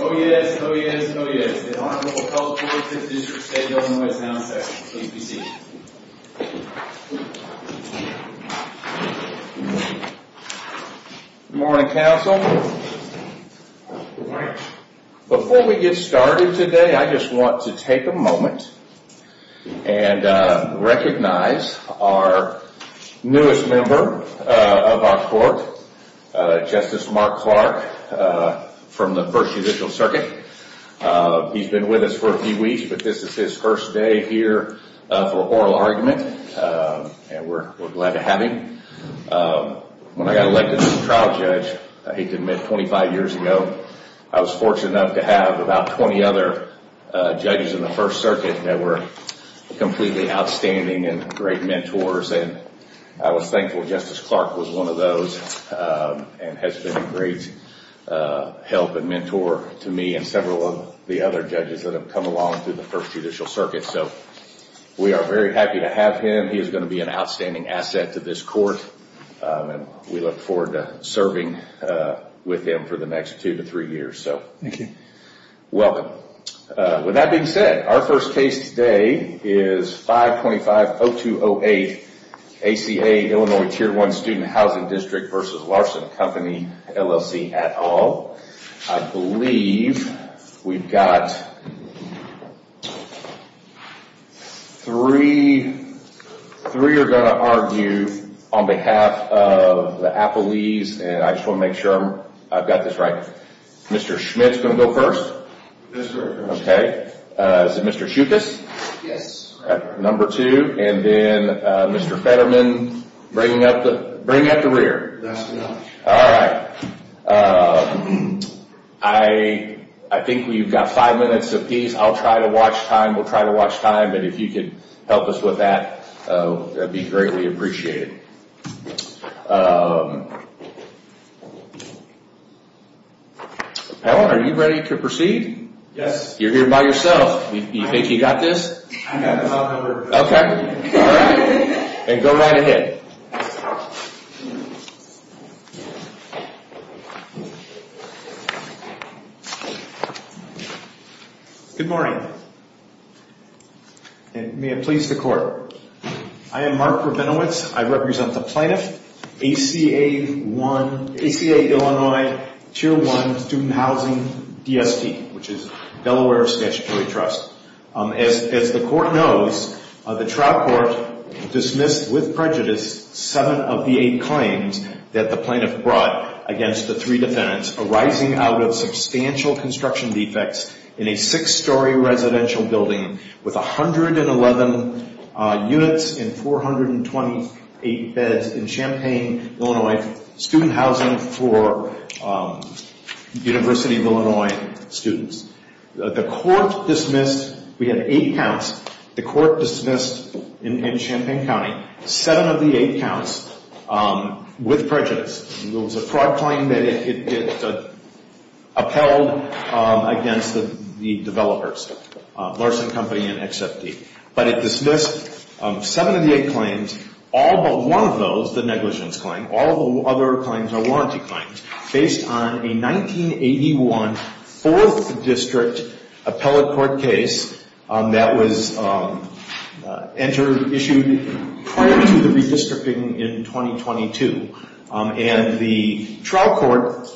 OES, OES, OES, the Honorable Public Health District District State Illinois Sound Section. Please be seated. Good morning, Council. Good morning. Before we get started today, I just want to take a moment and recognize our newest member of our court, Justice Mark Clark, from the First Judicial Circuit. He's been with us for a few weeks, but this is his first day here for oral argument. And we're glad to have him. When I got elected trial judge, I hate to admit, 25 years ago, I was fortunate enough to have about 20 other judges in the First Circuit that were completely outstanding and great mentors. I was thankful Justice Clark was one of those and has been a great help and mentor to me and several of the other judges that have come along through the First Judicial Circuit. We are very happy to have him. He is going to be an outstanding asset to this court. We look forward to serving with him for the next two to three years. Thank you. Welcome. With that being said, our first case today is 525-0208, ACA, Illinois Tier 1 Student Housing District v. Larson Company, LLC, et al. I believe we've got three. Three are going to argue on behalf of the Applelees, and I just want to make sure I've got this right. Mr. Schmidt is going to go first. Yes, sir. Okay. Is it Mr. Schuchas? Yes. Number two, and then Mr. Fetterman bringing up the rear. That's right. All right. I think we've got five minutes apiece. I'll try to watch time. We'll try to watch time, but if you could help us with that, that would be greatly appreciated. Howard, are you ready to proceed? Yes. You're here by yourself. You think you've got this? I've got the top number. Okay. All right. Then go right ahead. Good morning, and may it please the court. I am Mark Rabinowitz. I represent the plaintiff, ACA Illinois Tier 1 Student Housing DST, which is Delaware Statutory Trust. As the court knows, the trial court dismissed with prejudice seven of the eight claims that the plaintiff brought against the three defendants arising out of substantial construction defects in a six-story residential building with 111 units and 428 beds in Champaign, Illinois, student housing for University of Illinois students. The court dismissed. We had eight counts. The court dismissed in Champaign County seven of the eight counts with prejudice. It was a fraud claim that it upheld against the developers, Larson Company and XFD, but it dismissed seven of the eight claims. All but one of those, the negligence claim, all the other claims are warranty claims based on a 1981 Fourth District appellate court case that was issued prior to the redistricting in 2022, and the trial court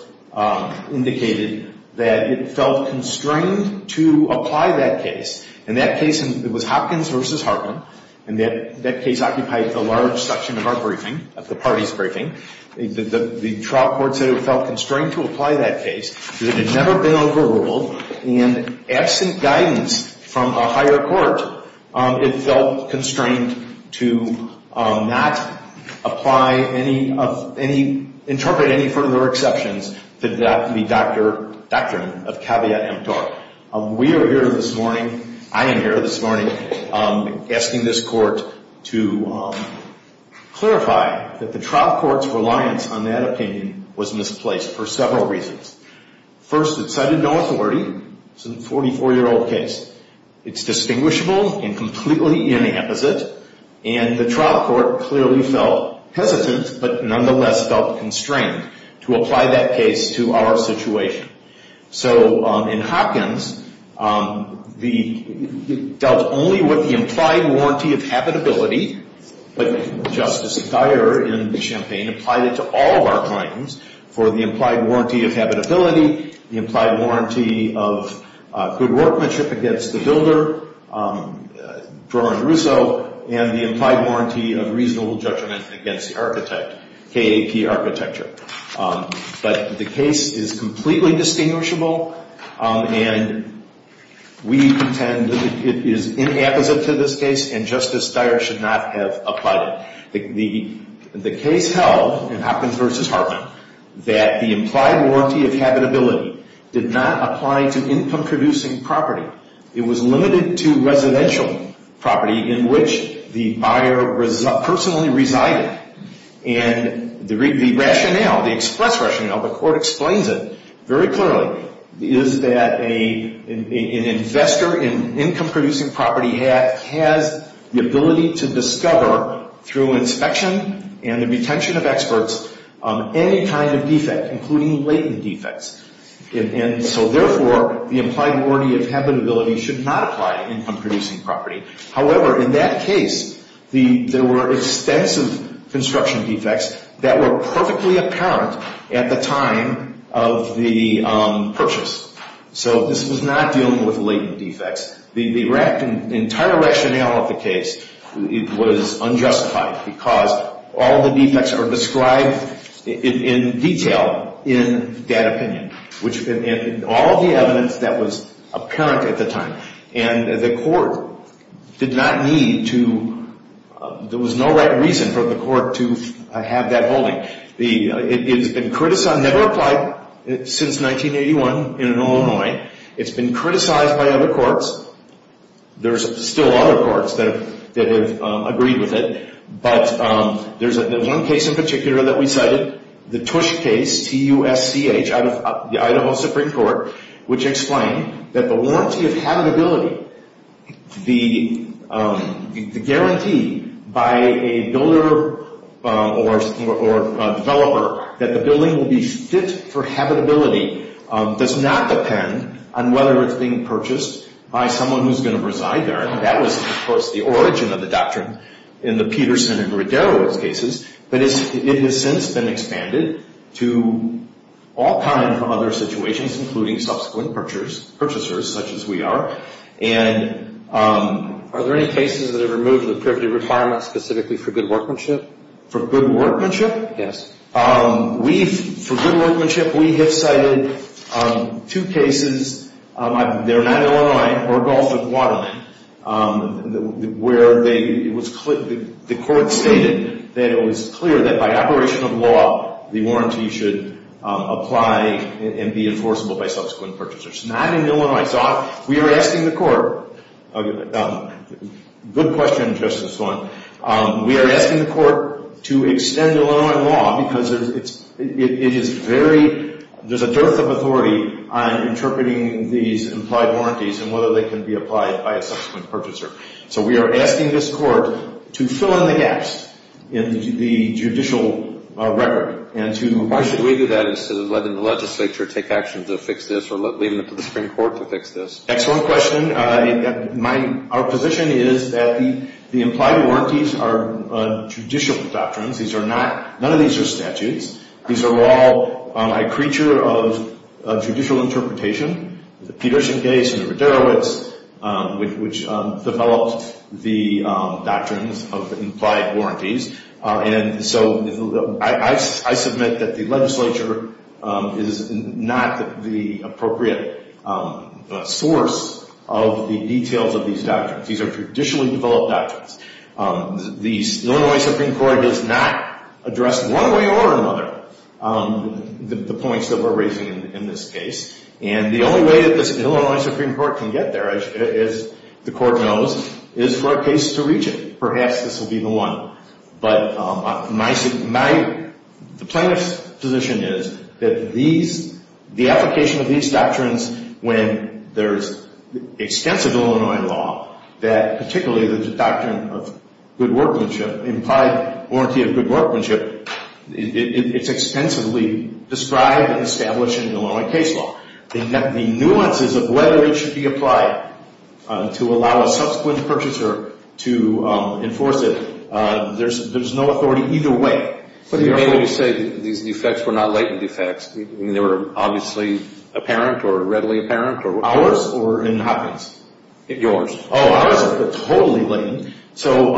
indicated that it felt constrained to apply that case, and that case was Hopkins v. Hartman, and that case occupied the large section of our briefing, of the party's briefing. The trial court said it felt constrained to apply that case because it had never been overruled, and absent guidance from a higher court, it felt constrained to not apply any of any, interpret any further exceptions to the doctrine of caveat emptor. We are here this morning, I am here this morning, asking this court to clarify that the trial court's reliance on that opinion was misplaced for several reasons. First, it cited no authority. It's a 44-year-old case. It's distinguishable and completely inapposite, and the trial court clearly felt hesitant, but nonetheless felt constrained to apply that case to our situation. So in Hopkins, it dealt only with the implied warranty of habitability, but Justice Dyer in Champaign applied it to all of our claims for the implied warranty of habitability, the implied warranty of good workmanship against the builder, and the implied warranty of reasonable judgment against the architect, KAP architecture. But the case is completely distinguishable, and we contend that it is inapposite to this case, and Justice Dyer should not have applied it. The case held in Hopkins v. Hartman that the implied warranty of habitability did not apply to income-producing property. It was limited to residential property in which the buyer personally resided, and the rationale, the express rationale, the court explains it very clearly, is that an investor in income-producing property has the ability to discover, through inspection and the retention of experts, any kind of defect, including latent defects. And so therefore, the implied warranty of habitability should not apply to income-producing property. However, in that case, there were extensive construction defects that were perfectly apparent at the time of the purchase. So this was not dealing with latent defects. The entire rationale of the case was unjustified because all the defects are described in detail in that opinion, which in all the evidence that was apparent at the time, and the court did not need to, there was no right reason for the court to have that holding. It has been criticized, never applied since 1981 in Illinois. It's been criticized by other courts. There's still other courts that have agreed with it, but there's one case in particular that we cited, the Tush case, T-U-S-C-H, out of the Idaho Supreme Court, which explained that the warranty of habitability, the guarantee by a builder or developer that the building will be fit for habitability, does not depend on whether it's being purchased by someone who's going to reside there. And that was, of course, the origin of the doctrine in the Peterson and Redero's cases. But it has since been expanded to all kinds of other situations, including subsequent purchasers, such as we are. And are there any cases that have removed the privity requirement specifically for good workmanship? For good workmanship? Yes. For good workmanship, we have cited two cases. They're not Illinois or Gulf of Guatemala, where the court stated that it was clear that by operation of law, the warranty should apply and be enforceable by subsequent purchasers. Not in Illinois. So we are asking the court, good question, Justice Swan, we are asking the court to extend Illinois law because it is very, there's a dearth of authority on interpreting these implied warranties and whether they can be applied by a subsequent purchaser. So we are asking this court to fill in the gaps in the judicial record. Why should we do that instead of letting the legislature take action to fix this or leaving it to the Supreme Court to fix this? Excellent question. Our position is that the implied warranties are judicial doctrines. These are not, none of these are statutes. These are all a creature of judicial interpretation. The Peterson case and the Ruderowitz, which developed the doctrines of the implied warranties. And so I submit that the legislature is not the appropriate source of the details of these doctrines. These are traditionally developed doctrines. The Illinois Supreme Court does not address one way or another the points that we're raising in this case. And the only way that this Illinois Supreme Court can get there, as the court knows, is for a case to reach it. Perhaps this will be the one. But my, the plaintiff's position is that these, the application of these doctrines when there's extensive Illinois law, that particularly the doctrine of good workmanship, implied warranty of good workmanship, it's extensively described and established in Illinois case law. The nuances of whether it should be applied to allow a subsequent purchaser to enforce it, there's no authority either way. But you may say these defects were not latent defects. I mean, they were obviously apparent or readily apparent. Ours or in Hopkins? Yours. Oh, ours are totally latent. So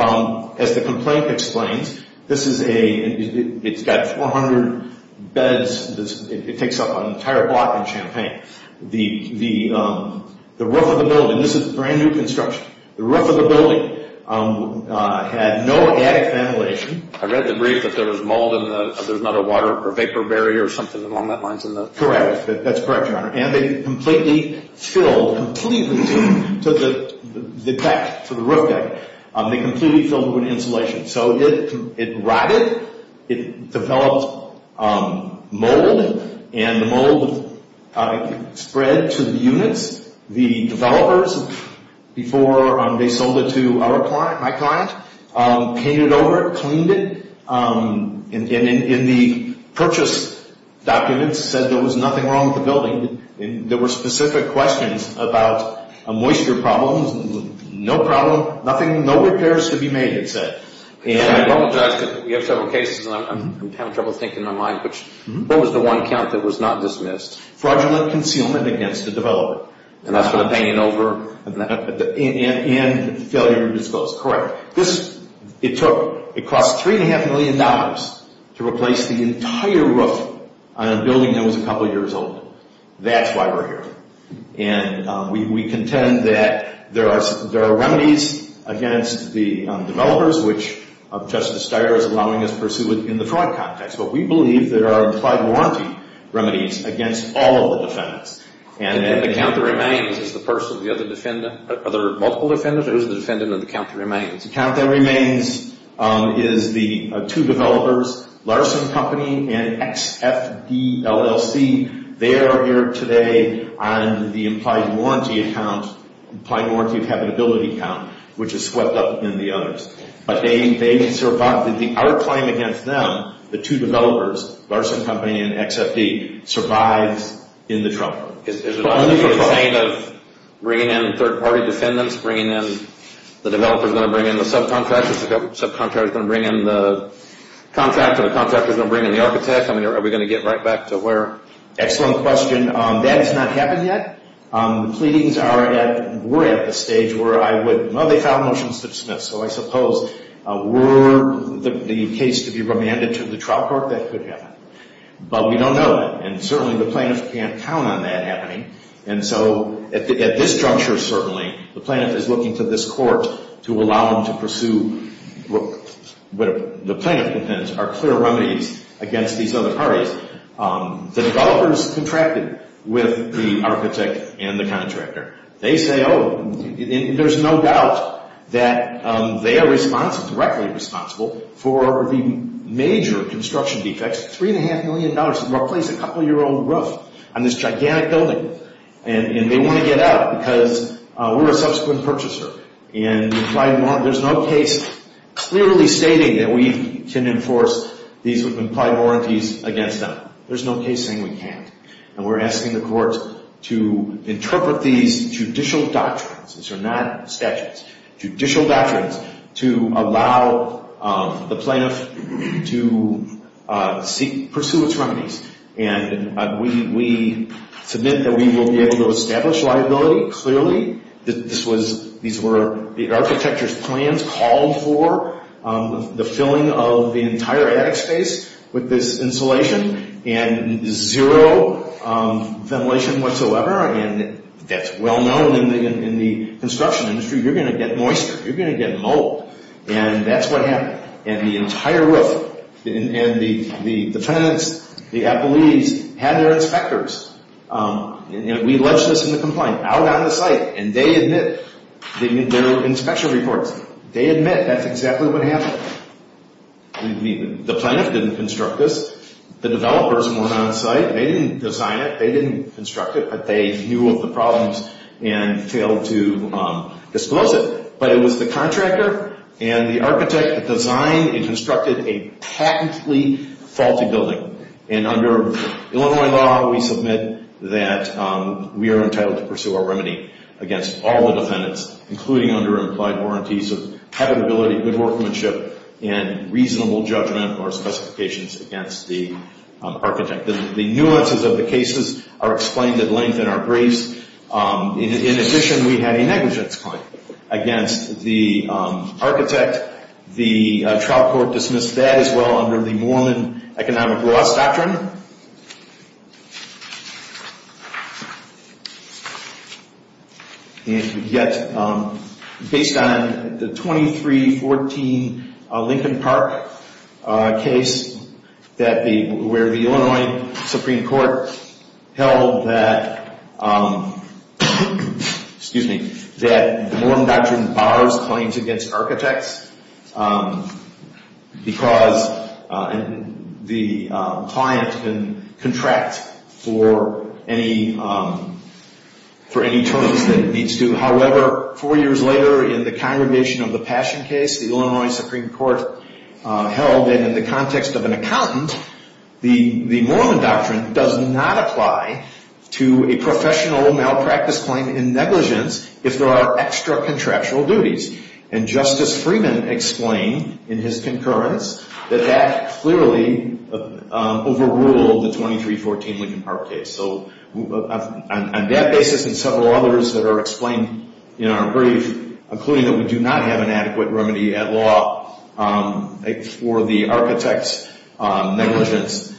as the complaint explains, this is a, it's got 400 beds. It takes up an entire block in Champaign. The roof of the building, this is brand new construction. The roof of the building had no attic ventilation. I read the brief that there was mold in the, there's not a water or vapor barrier or something along that line. Correct. That's correct, Your Honor. And they completely filled, completely to the deck, to the roof deck. They completely filled it with insulation. So it rotted. It developed mold, and the mold spread to the units. The developers, before they sold it to our client, my client, painted over it, and there were specific questions about a moisture problem, no problem, nothing, no repairs to be made, it said. And I apologize because we have several cases, and I'm having trouble thinking in my mind, but what was the one count that was not dismissed? Fraudulent concealment against the developer. And that's for the painting over? And failure to disclose. Correct. This, it took, it cost $3.5 million to replace the entire roof on a building that was a couple years old. That's why we're here. And we contend that there are remedies against the developers, which Justice Steyer is allowing us to pursue in the fraud context. But we believe there are implied warranty remedies against all of the defendants. And the count that remains is the person, the other defendant, are there multiple defendants, or who's the defendant, and the count that remains? The count that remains is the two developers, Larson Company and XFD, LLC. They are here today on the implied warranty account, implied warranty of habitability account, which is swept up in the others. But they survived. Our claim against them, the two developers, Larson Company and XFD, survives in the trial. Is it a sign of bringing in third-party defendants, bringing in the developers, going to bring in the subcontractors, the subcontractors going to bring in the contractor, the contractors going to bring in the architect? I mean, are we going to get right back to where? Excellent question. That has not happened yet. The pleadings are at, we're at the stage where I would, well, they filed motions to dismiss. So I suppose were the case to be remanded to the trial court, that could happen. But we don't know. And certainly the plaintiffs can't count on that happening. And so at this juncture, certainly, the plaintiff is looking to this court to allow them to pursue. The plaintiff defendants are clear remedies against these other parties. The developers contracted with the architect and the contractor. They say, oh, there's no doubt that they are responsible, directly responsible for the major construction defects, $3.5 million to replace a couple-year-old roof on this gigantic building. And they want to get out because we're a subsequent purchaser. And there's no case clearly stating that we can enforce these implied warranties against them. There's no case saying we can't. And we're asking the courts to interpret these judicial doctrines. These are not statutes. Judicial doctrines to allow the plaintiff to pursue its remedies. And we submit that we will be able to establish liability, clearly. These were the architect's plans called for, the filling of the entire attic space with this insulation and zero ventilation whatsoever. And that's well known in the construction industry. You're going to get moisture. You're going to get mold. And that's what happened. And the entire roof and the tenants, the appellees, had their inspectors, and we alleged this in the complaint, out on the site. And they admit their inspection reports. They admit that's exactly what happened. The plaintiff didn't construct this. The developers weren't on site. They didn't design it. They didn't construct it. But they knew of the problems and failed to disclose it. But it was the contractor and the architect that designed and constructed a patently faulty building. And under Illinois law, we submit that we are entitled to pursue our remedy against all the defendants, including under implied warranties of habitability, good workmanship, and reasonable judgment or specifications against the architect. The nuances of the cases are explained at length in our briefs. In addition, we had a negligence claim against the architect. The trial court dismissed that as well under the Mormon economic loss doctrine. And we get, based on the 2314 Lincoln Park case, where the Illinois Supreme Court held that, excuse me, that the Mormon doctrine borrows claims against architects because the client can contract for any terms that it needs to. However, four years later in the Congregation of the Passion case, the Illinois Supreme Court held that in the context of an accountant, the Mormon doctrine does not apply to a professional malpractice claim in negligence if there are extra contractual duties. And Justice Freeman explained in his concurrence that that clearly overruled the 2314 Lincoln Park case. So on that basis and several others that are explained in our brief, including that we do not have an adequate remedy at law for the architect's negligence,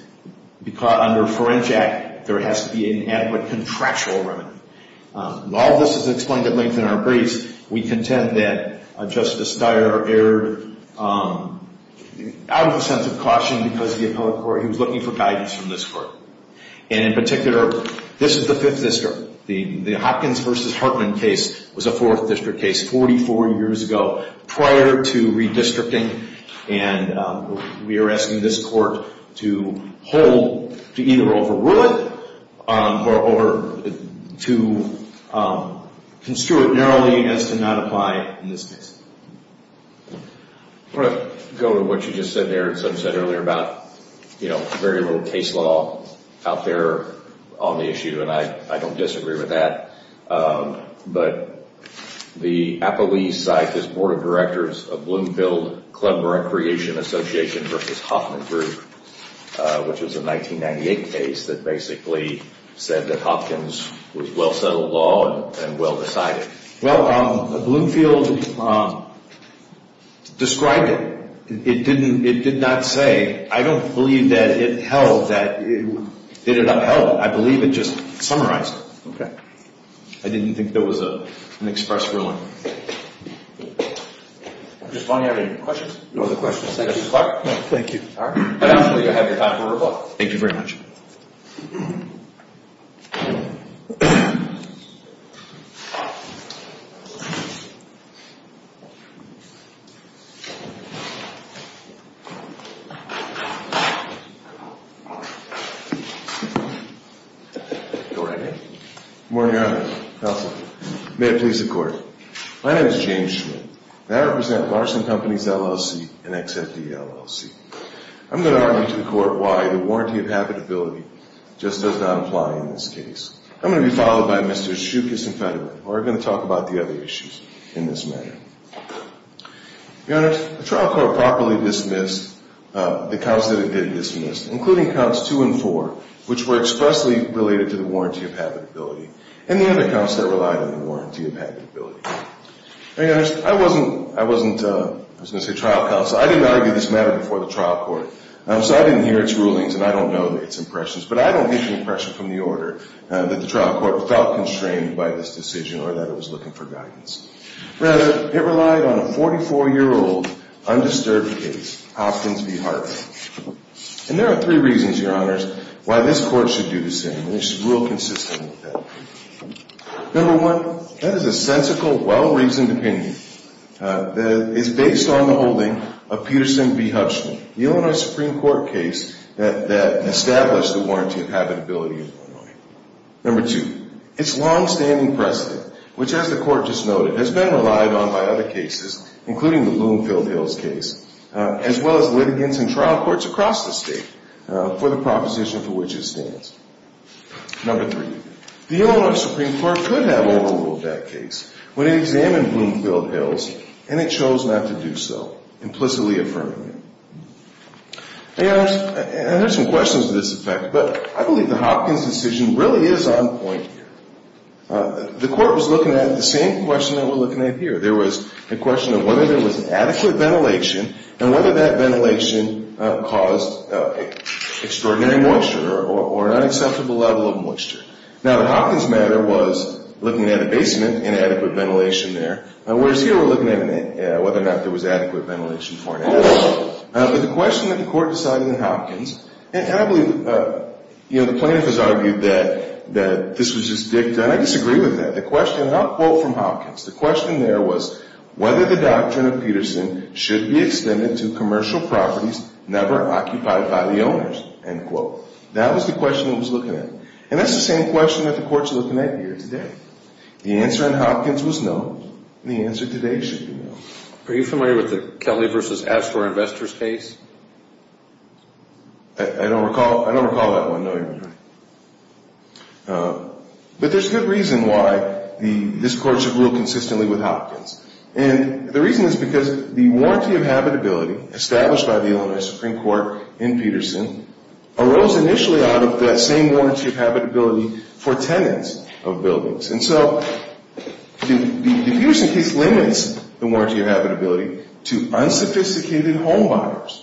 under Ferenczak, there has to be an adequate contractual remedy. While this is explained at length in our briefs, we contend that Justice Steyer erred out of a sense of caution because he was looking for guidance from this court. And in particular, this is the Fifth District. The Hopkins v. Hartman case was a Fourth District case 44 years ago prior to redistricting. And we are asking this court to hold, to either overrule it or to construe it narrowly as to not apply in this case. I want to go to what you just said there and some said earlier about, you know, very little case law out there on the issue. And I don't disagree with that. But the Appalachian Psychist Board of Directors of Bloomfield Club Recreation Association v. Hoffman Group, which was a 1998 case that basically said that Hopkins was well-settled law and well-decided. Well, Bloomfield described it. It did not say. I don't believe that it held that it did not help. I believe it just summarized it. Okay. I didn't think there was an express ruling. Mr. Spohn, do you have any questions? No other questions. Thank you, Clark. No, thank you. All right. I'd ask that you have your time to rebut. Thank you very much. Go right ahead. Good morning, Your Honor. Counsel. May it please the Court. My name is James Schmidt, and I represent Larson Companies LLC and XFD LLC. I'm going to argue to the Court why the warranty of habitability just does not apply in this case. I'm going to be followed by Mr. Shookus and Federman, who are going to talk about the other issues in this matter. Your Honor, the trial court properly dismissed the counts that it did dismiss, including counts two and four, which were expressly related to the warranty of habitability, and the other counts that relied on the warranty of habitability. I wasn't going to say trial counsel. I didn't argue this matter before the trial court, so I didn't hear its rulings, and I don't know its impressions. But I don't get the impression from the order that the trial court felt constrained by this decision or that it was looking for guidance. Rather, it relied on a 44-year-old undisturbed case, Hopkins v. Hartman. And there are three reasons, Your Honors, why this court should do the same, and it should rule consistently with that. Number one, that is a sensical, well-reasoned opinion that is based on the holding of Peterson v. Hubschman, the Illinois Supreme Court case that established the warranty of habitability in Illinois. Number two, its longstanding precedent, which, as the Court just noted, has been relied on by other cases, including the Bloomfield Hills case, as well as litigants and trial courts across the state, for the proposition for which it stands. Number three, the Illinois Supreme Court could have overruled that case when it examined Bloomfield Hills, and it chose not to do so, implicitly affirming it. And there are some questions to this effect, but I believe the Hopkins decision really is on point here. The Court was looking at the same question that we're looking at here. There was a question of whether there was an adequate ventilation, and whether that ventilation caused extraordinary moisture or an unacceptable level of moisture. Now, the Hopkins matter was looking at a basement and adequate ventilation there, whereas here we're looking at whether or not there was adequate ventilation for an attic. But the question that the Court decided in Hopkins, and I believe the plaintiff has argued that this was just dicta, and I disagree with that. The question, and I'll quote from Hopkins, the question there was, whether the doctrine of Peterson should be extended to commercial properties never occupied by the owners, end quote. That was the question it was looking at. And that's the same question that the Court's looking at here today. The answer in Hopkins was no, and the answer today should be no. Are you familiar with the Kelly v. Astor investors case? I don't recall that one, no, Your Honor. But there's good reason why this Court should rule consistently with Hopkins. And the reason is because the warranty of habitability established by the Illinois Supreme Court in Peterson arose initially out of that same warranty of habitability for tenants of buildings. And so the Peterson case limits the warranty of habitability to unsophisticated home buyers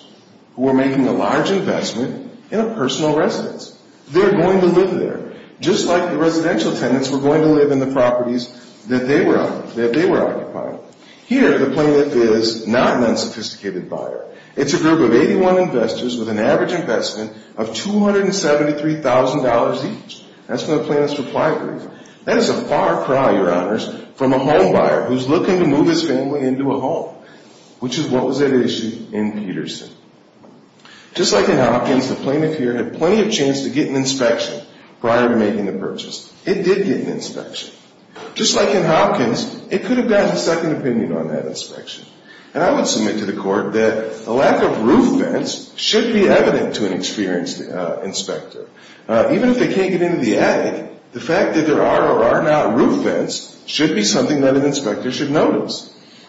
who are making a large investment in a personal residence. They're going to live there, just like the residential tenants were going to live in the properties that they were occupying. Here, the plaintiff is not an unsophisticated buyer. It's a group of 81 investors with an average investment of $273,000 each. That's from the plaintiff's supply brief. That is a far cry, Your Honors, from a home buyer who's looking to move his family into a home, which is what was at issue in Peterson. Just like in Hopkins, the plaintiff here had plenty of chance to get an inspection prior to making the purchase. It did get an inspection. Just like in Hopkins, it could have gotten a second opinion on that inspection. And I would submit to the Court that a lack of roof vents should be evident to an experienced inspector. Even if they can't get into the attic, the fact that there are or are not roof vents should be something that an inspector should notice.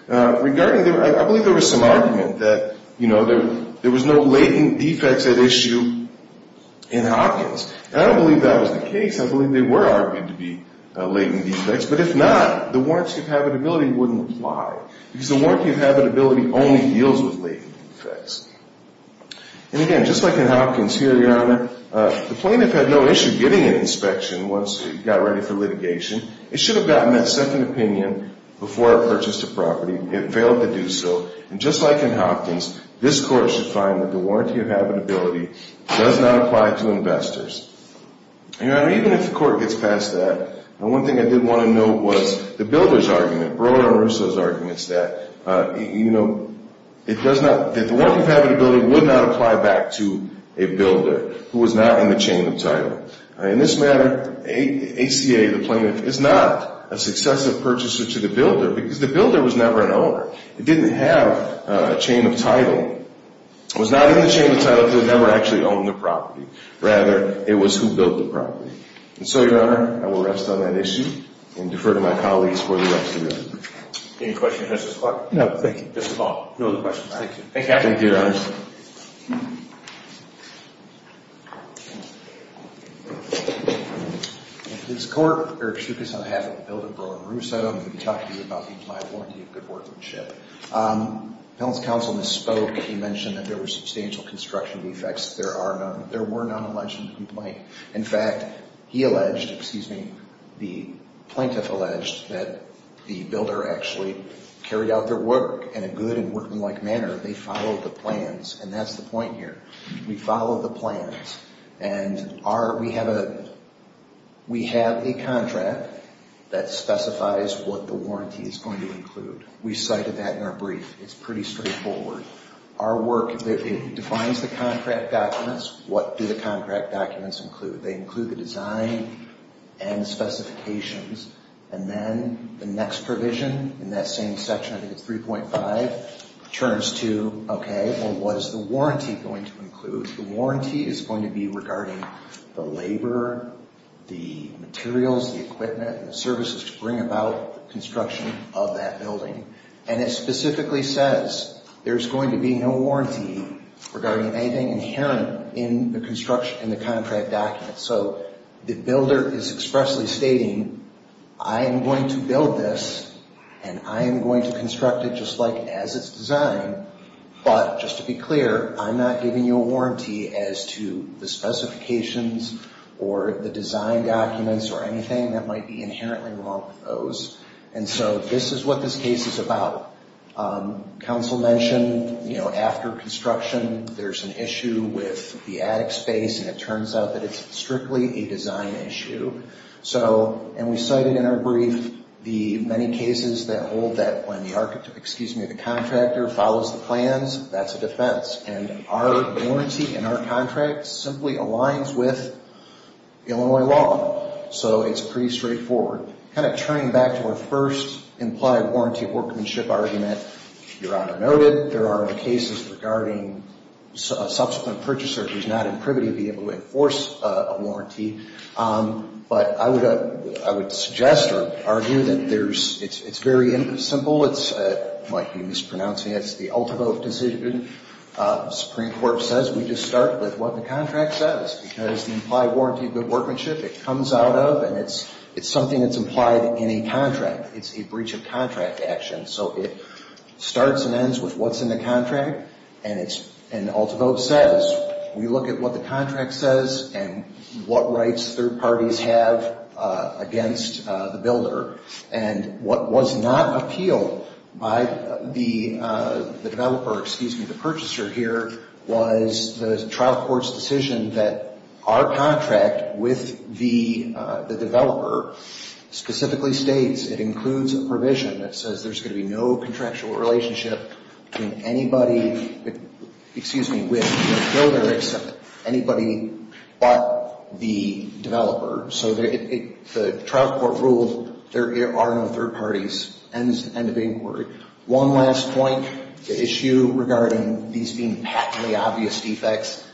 I believe there was some argument that there was no latent defects at issue in Hopkins. And I don't believe that was the case. I believe they were argued to be latent defects. But if not, the warranty of habitability wouldn't apply, because the warranty of habitability only deals with latent defects. And again, just like in Hopkins here, Your Honor, the plaintiff had no issue getting an inspection once it got ready for litigation. It should have gotten that second opinion before it purchased the property. It failed to do so. And just like in Hopkins, this Court should find that the warranty of habitability does not apply to investors. Your Honor, even if the Court gets past that, the one thing I did want to note was the builder's argument, Brewer and Russo's arguments that the warranty of habitability would not apply back to a builder who was not in the chain of title. In this matter, ACA, the plaintiff, is not a successive purchaser to the builder, because the builder was never an owner. It didn't have a chain of title. It was not in the chain of title because it never actually owned the property. Rather, it was who built the property. And so, Your Honor, I will rest on that issue and defer to my colleagues for the rest of the day. Any questions of Justice Clark? No, thank you. That's all. No other questions. Thank you. Thank you, Your Honor. This Court, Eric Tsoukas, on behalf of the builder Brewer and Russo, I'm going to be talking to you about the implied warranty of good workmanship. The Appellant's Counsel misspoke. He mentioned that there were substantial construction defects. There were none alleged in the complaint. In fact, he alleged, excuse me, the plaintiff alleged that the builder actually carried out their work in a good and working-like manner. They followed the plans, and that's the point here. We follow the plans. And we have a contract that specifies what the warranty is going to include. We cited that in our brief. It's pretty straightforward. Our work defines the contract documents. What do the contract documents include? They include the design and specifications, and then the next provision in that same section, I think it's 3.5, turns to, okay, well, what is the warranty going to include? The warranty is going to be regarding the labor, the materials, the equipment, and the services to bring about construction of that building. And it specifically says there's going to be no warranty regarding anything inherent in the construction and the contract documents. So the builder is expressly stating, I am going to build this, and I am going to construct it just like as it's designed, but just to be clear, I'm not giving you a warranty as to the specifications or the design documents or anything that might be inherently wrong with those. And so this is what this case is about. Council mentioned, you know, after construction, there's an issue with the attic space, and it turns out that it's strictly a design issue. And we cited in our brief the many cases that hold that when the architect, excuse me, the contractor follows the plans, that's a defense. And our warranty in our contract simply aligns with Illinois law. So it's pretty straightforward. Kind of turning back to our first implied warranty workmanship argument, Your Honor noted, there are cases regarding a subsequent purchaser who's not in privity to be able to enforce a warranty. But I would suggest or argue that it's very simple. It might be mispronouncing. It's the Althabove decision. The Supreme Court says we just start with what the contract says, because the implied warranty good workmanship, it comes out of, and it's something that's implied in a contract. It's a breach of contract action. So it starts and ends with what's in the contract, and Althabove says, we look at what the contract says and what rights third parties have against the builder. And what was not appealed by the developer, excuse me, the purchaser here, was the trial court's decision that our contract with the developer specifically states, it includes a provision that says there's going to be no contractual relationship between anybody, excuse me, with the builder except anybody but the developer. So the trial court ruled there are no third parties. End of inquiry. One last point, the issue regarding these being patently obvious defects,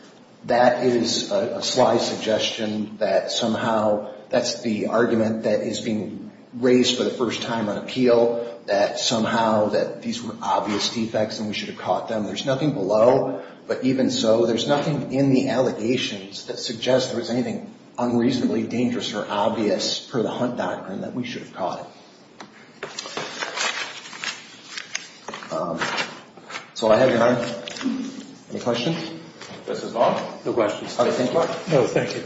that is a sly suggestion that somehow that's the argument that is being raised for the first time on appeal, that somehow that these were obvious defects and we should have caught them. There's nothing below, but even so, there's nothing in the allegations that suggests there was anything unreasonably dangerous or obvious per the Hunt Doctrine that we should have caught it. So I have your time. Any questions? This is Bob. No questions. How do you think, Bob? No, thank you.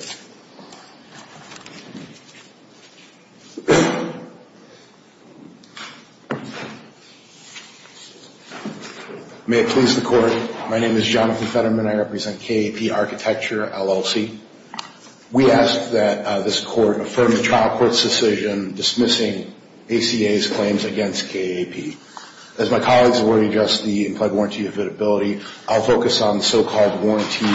May it please the Court, my name is Jonathan Fetterman. I represent KAP Architecture, LLC. We ask that this Court affirm the trial court's decision dismissing ACA's claims against KAP. As my colleagues have already addressed the implied warranty affidavility, I'll focus on so-called warranty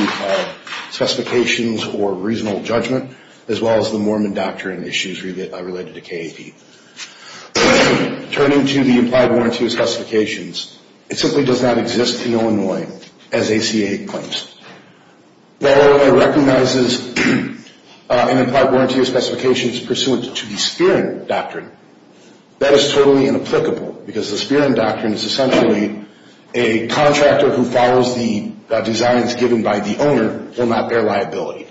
specifications or reasonable judgment, as well as the Mormon doctrine issues related to KAP. Turning to the implied warranty specifications, it simply does not exist in Illinois as ACA claims. While Illinois recognizes an implied warranty of specifications pursuant to the Spearing Doctrine, that is totally inapplicable because the Spearing Doctrine is essentially a contractor who follows the designs given by the owner will not bear liability.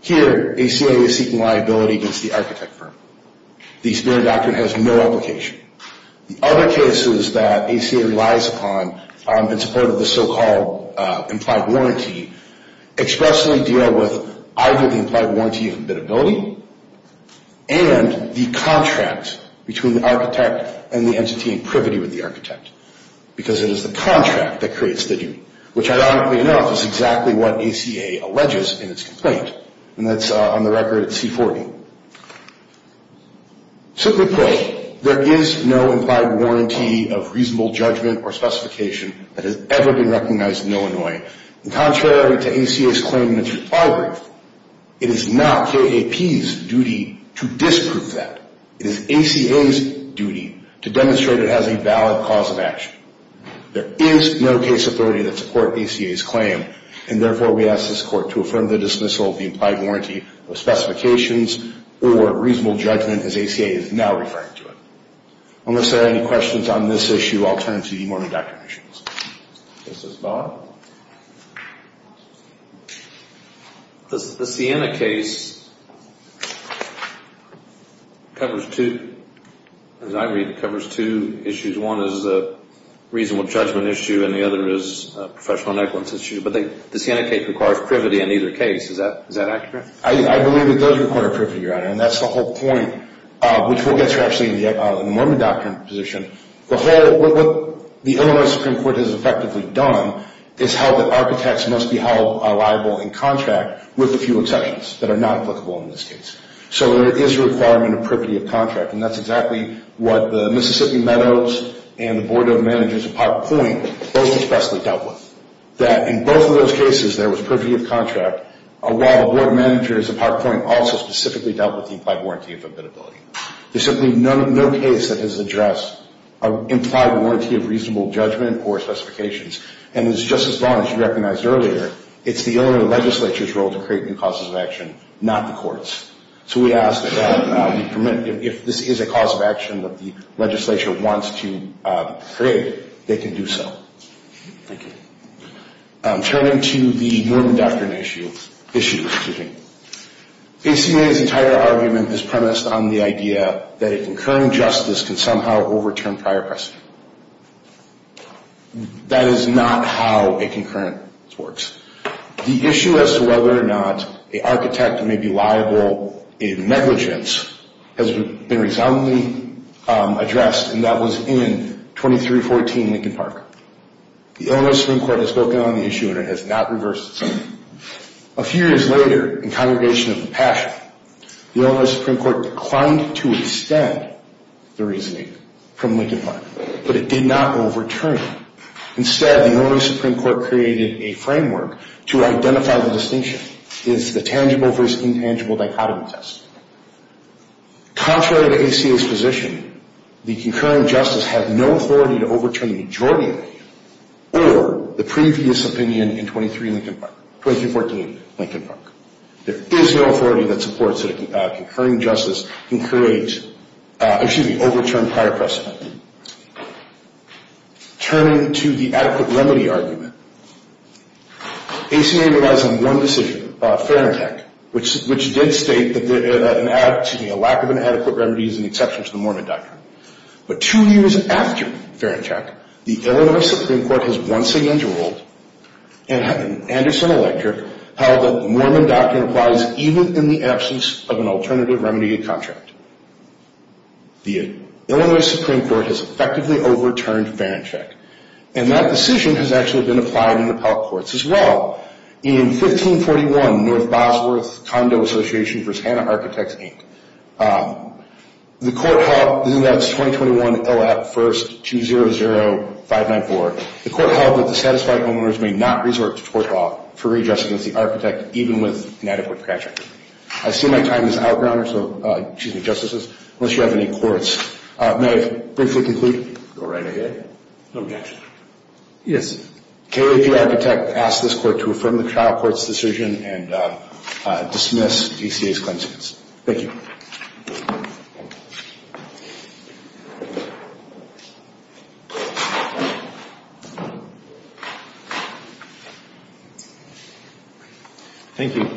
Here, ACA is seeking liability against the architect firm. The Spearing Doctrine has no application. The other cases that ACA relies upon in support of the so-called implied warranty expressly deal with either the implied warranty of affidavility and the contract between the architect and the entity in privity with the architect because it is the contract that creates the duty, which ironically enough is exactly what ACA alleges in its complaint, and that's on the record at C40. Simply put, there is no implied warranty of reasonable judgment or specification that has ever been recognized in Illinois. And contrary to ACA's claim in its rebuttal brief, it is not KAP's duty to disprove that. It is ACA's duty to demonstrate it has a valid cause of action. There is no case authority that supports ACA's claim, and therefore we ask this Court to affirm the dismissal of the implied warranty of specifications or reasonable judgment as ACA is now referring to it. Unless there are any questions on this issue, I'll turn to the morning doctrine issues. This is Bob. The Sienna case covers two, as I read, covers two issues. One is a reasonable judgment issue, and the other is a professional negligence issue. But the Sienna case requires privity in either case. Is that accurate? I believe it does require privity, Your Honor, and that's the whole point, which will get to actually the Mormon doctrine position. What the Illinois Supreme Court has effectively done is held that architects must be held liable in contract with a few exceptions that are not applicable in this case. So there is a requirement of privity of contract, and that's exactly what the Mississippi Meadows and the Board of Managers of Park Point both expressly dealt with, that in both of those cases there was privity of contract, while the Board of Managers of Park Point also specifically dealt with the implied warranty of abitability. There's simply no case that has addressed an implied warranty of reasonable judgment or specifications, and it's just as wrong as you recognized earlier. It's the Illinois legislature's role to create new causes of action, not the Court's. So we ask that if this is a cause of action that the legislature wants to create, they can do so. Thank you. Turning to the Mormon doctrine issue, ACMA's entire argument is premised on the idea that a concurring justice can somehow overturn prior precedent. That is not how a concurrence works. The issue as to whether or not an architect may be liable in negligence has been resoundingly addressed, and that was in 2314 Lincoln Park. The Illinois Supreme Court has spoken on the issue, and it has not reversed itself. A few years later, in Congregation of Compassion, the Illinois Supreme Court declined to extend the reasoning from Lincoln Park, but it did not overturn it. Instead, the Illinois Supreme Court created a framework to identify the distinction. It's the tangible versus intangible dichotomy test. Contrary to ACMA's position, the concurring justice had no authority to overturn majority opinion or the previous opinion in 2314 Lincoln Park. There is no authority that supports that a concurring justice can create, excuse me, overturn prior precedent. Turning to the adequate remedy argument, ACMA relies on one decision, Ferenczak, which did state that a lack of an adequate remedy is an exception to the Mormon doctrine. But two years after Ferenczak, the Illinois Supreme Court has once again ruled, in an Anderson electorate, how the Mormon doctrine applies even in the absence of an alternative remedy contract. The Illinois Supreme Court has effectively overturned Ferenczak, and that decision has actually been applied in appellate courts as well. In 1541, North Bosworth Condo Association v. Hanna Architects, Inc., the court held, and that's 2021 LAP 1st 200594, the court held that the satisfied homeowners may not resort to tort law for readjusting against the architect, even with an adequate project. I see my time is out, Your Honor, so, excuse me, Justices, unless you have any quotes. May I briefly conclude? Go right ahead. Yes, sir. KAP Architect asks this court to affirm the trial court's decision and dismiss DCA's claims against it. Thank you. Thank you.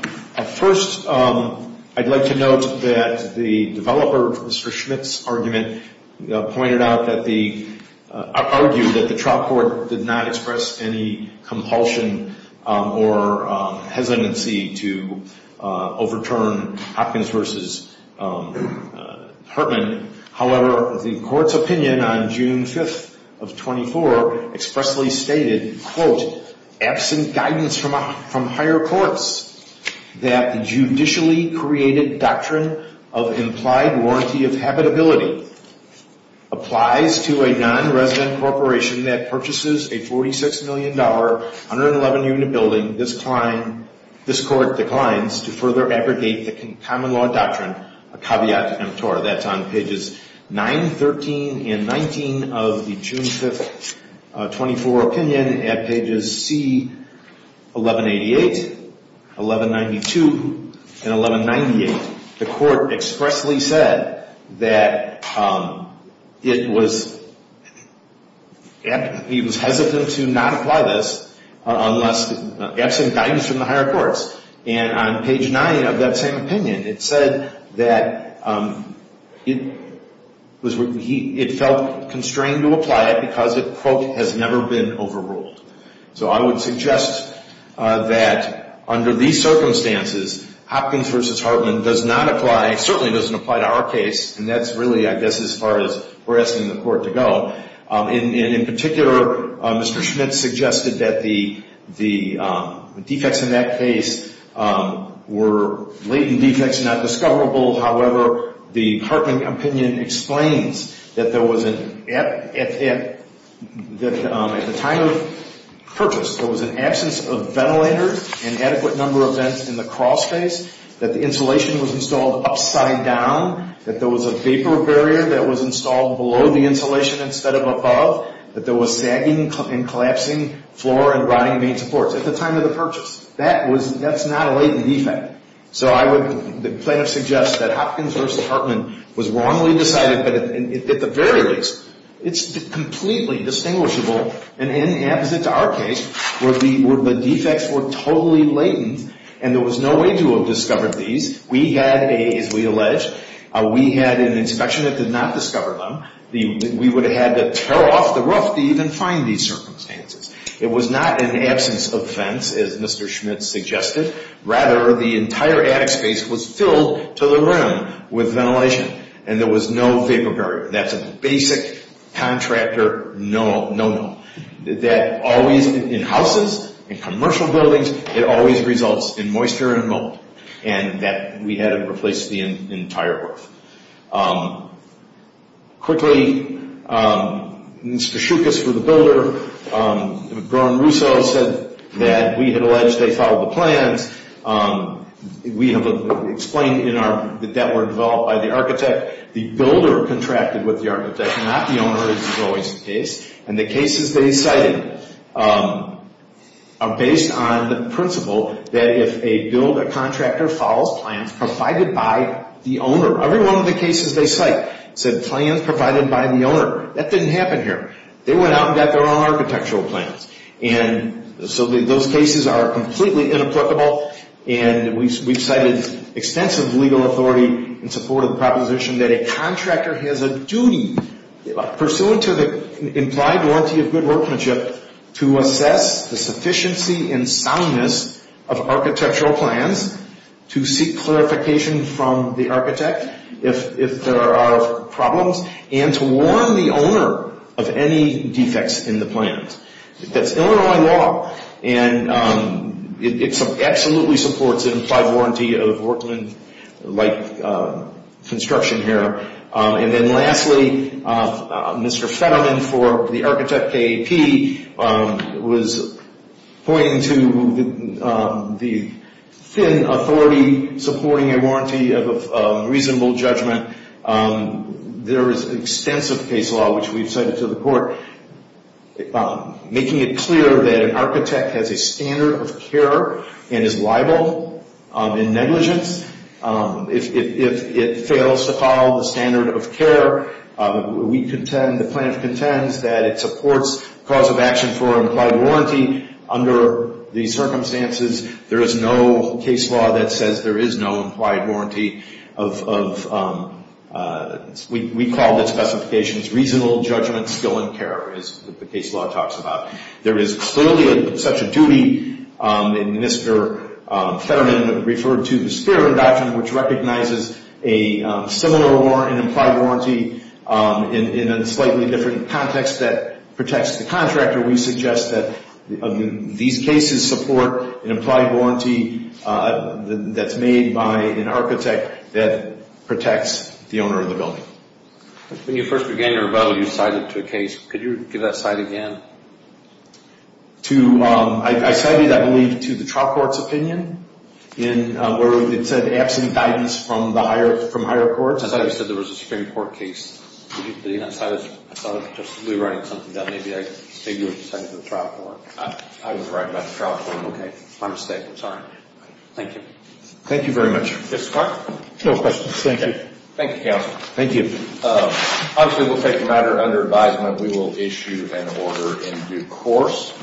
First, I'd like to note that the developer, Mr. Schmidt's argument, pointed out that the, argued that the trial court did not express any compulsion or hesitancy to overturn Hopkins v. Hartman. However, the court's opinion on June 5th of 24 expressly stated, quote, absent guidance from higher courts that the judicially created doctrine of implied warranty of habitability applies to a non-resident corporation that purchases a $46 million, 111-unit building. This court declines to further abrogate the common law doctrine, a caveat emptor. That's on pages 9, 13, and 19 of the June 5th, 24 opinion at pages C, 1188, 1192, and 1198. The court expressly said that it was, he was hesitant to not apply this unless, absent guidance from the higher courts. And on page 9 of that same opinion, it said that it felt constrained to apply it because it, quote, has never been overruled. So I would suggest that under these circumstances, Hopkins v. Hartman does not apply, certainly doesn't apply to our case, and that's really, I guess, as far as we're asking the court to go. In particular, Mr. Schmitz suggested that the defects in that case were latent defects, not discoverable. However, the Hartman opinion explains that there was an, at the time of purchase, there was an absence of ventilators, inadequate number of vents in the crawl space, that the insulation was installed upside down, that there was a vapor barrier that was installed below the insulation instead of above, that there was sagging and collapsing floor and rotting main supports. At the time of the purchase. That was, that's not a latent defect. So I would, the plaintiff suggests that Hopkins v. Hartman was wrongly decided, but at the very least, it's completely distinguishable and inapposite to our case, where the defects were totally latent and there was no way to have discovered these. We had, as we alleged, we had an inspection that did not discover them. We would have had to tear off the roof to even find these circumstances. It was not an absence of vents, as Mr. Schmitz suggested. Rather, the entire attic space was filled to the rim with ventilation, and there was no vapor barrier. That's a basic contractor no-no. That always, in houses, in commercial buildings, it always results in moisture and mold. And that we had to replace the entire roof. Quickly, Mr. Schuchas for the builder, Ron Russo said that we had alleged they followed the plans. We have explained in our, that that were developed by the architect. The builder contracted with the architect, not the owner, as is always the case. And the cases they cited are based on the principle that if a builder contractor follows plans provided by the owner. Every one of the cases they cite said plans provided by the owner. That didn't happen here. They went out and got their own architectural plans. And so those cases are completely inapplicable. And we've cited extensive legal authority in support of the proposition that a contractor has a duty, pursuant to the implied warranty of good workmanship, to assess the sufficiency and soundness of architectural plans, to seek clarification from the architect if there are problems, and to warn the owner of any defects in the plans. That's Illinois law. And it absolutely supports an implied warranty of workmanlike construction here. And then lastly, Mr. Fetterman for the Architect KAP was pointing to the thin authority supporting a warranty of reasonable judgment. There is extensive case law, which we've cited to the court, making it clear that an architect has a standard of care and is liable in negligence if it fails to follow the standard of care. The plaintiff contends that it supports cause of action for implied warranty. Under the circumstances, there is no case law that says there is no implied warranty. We call the specifications reasonable judgment, skill, and care, as the case law talks about. There is clearly such a duty, and Mr. Fetterman referred to the Sphere of Induction, which recognizes a similar warrant, an implied warranty, in a slightly different context that protects the contractor. We suggest that these cases support an implied warranty that's made by an architect that protects the owner of the building. When you first began your rebuttal, you cited to a case. Could you give that side again? I cited, I believe, to the trial court's opinion, where it said absent guidance from higher courts. I thought you said there was a Supreme Court case. I thought I was just rewriting something that maybe you were citing to the trial court. I was right about the trial court. Okay, my mistake. I'm sorry. Thank you. Thank you very much. No questions. Thank you. Thank you, counsel. Thank you. Obviously, we'll take a matter under advisement. We will issue an order in due course.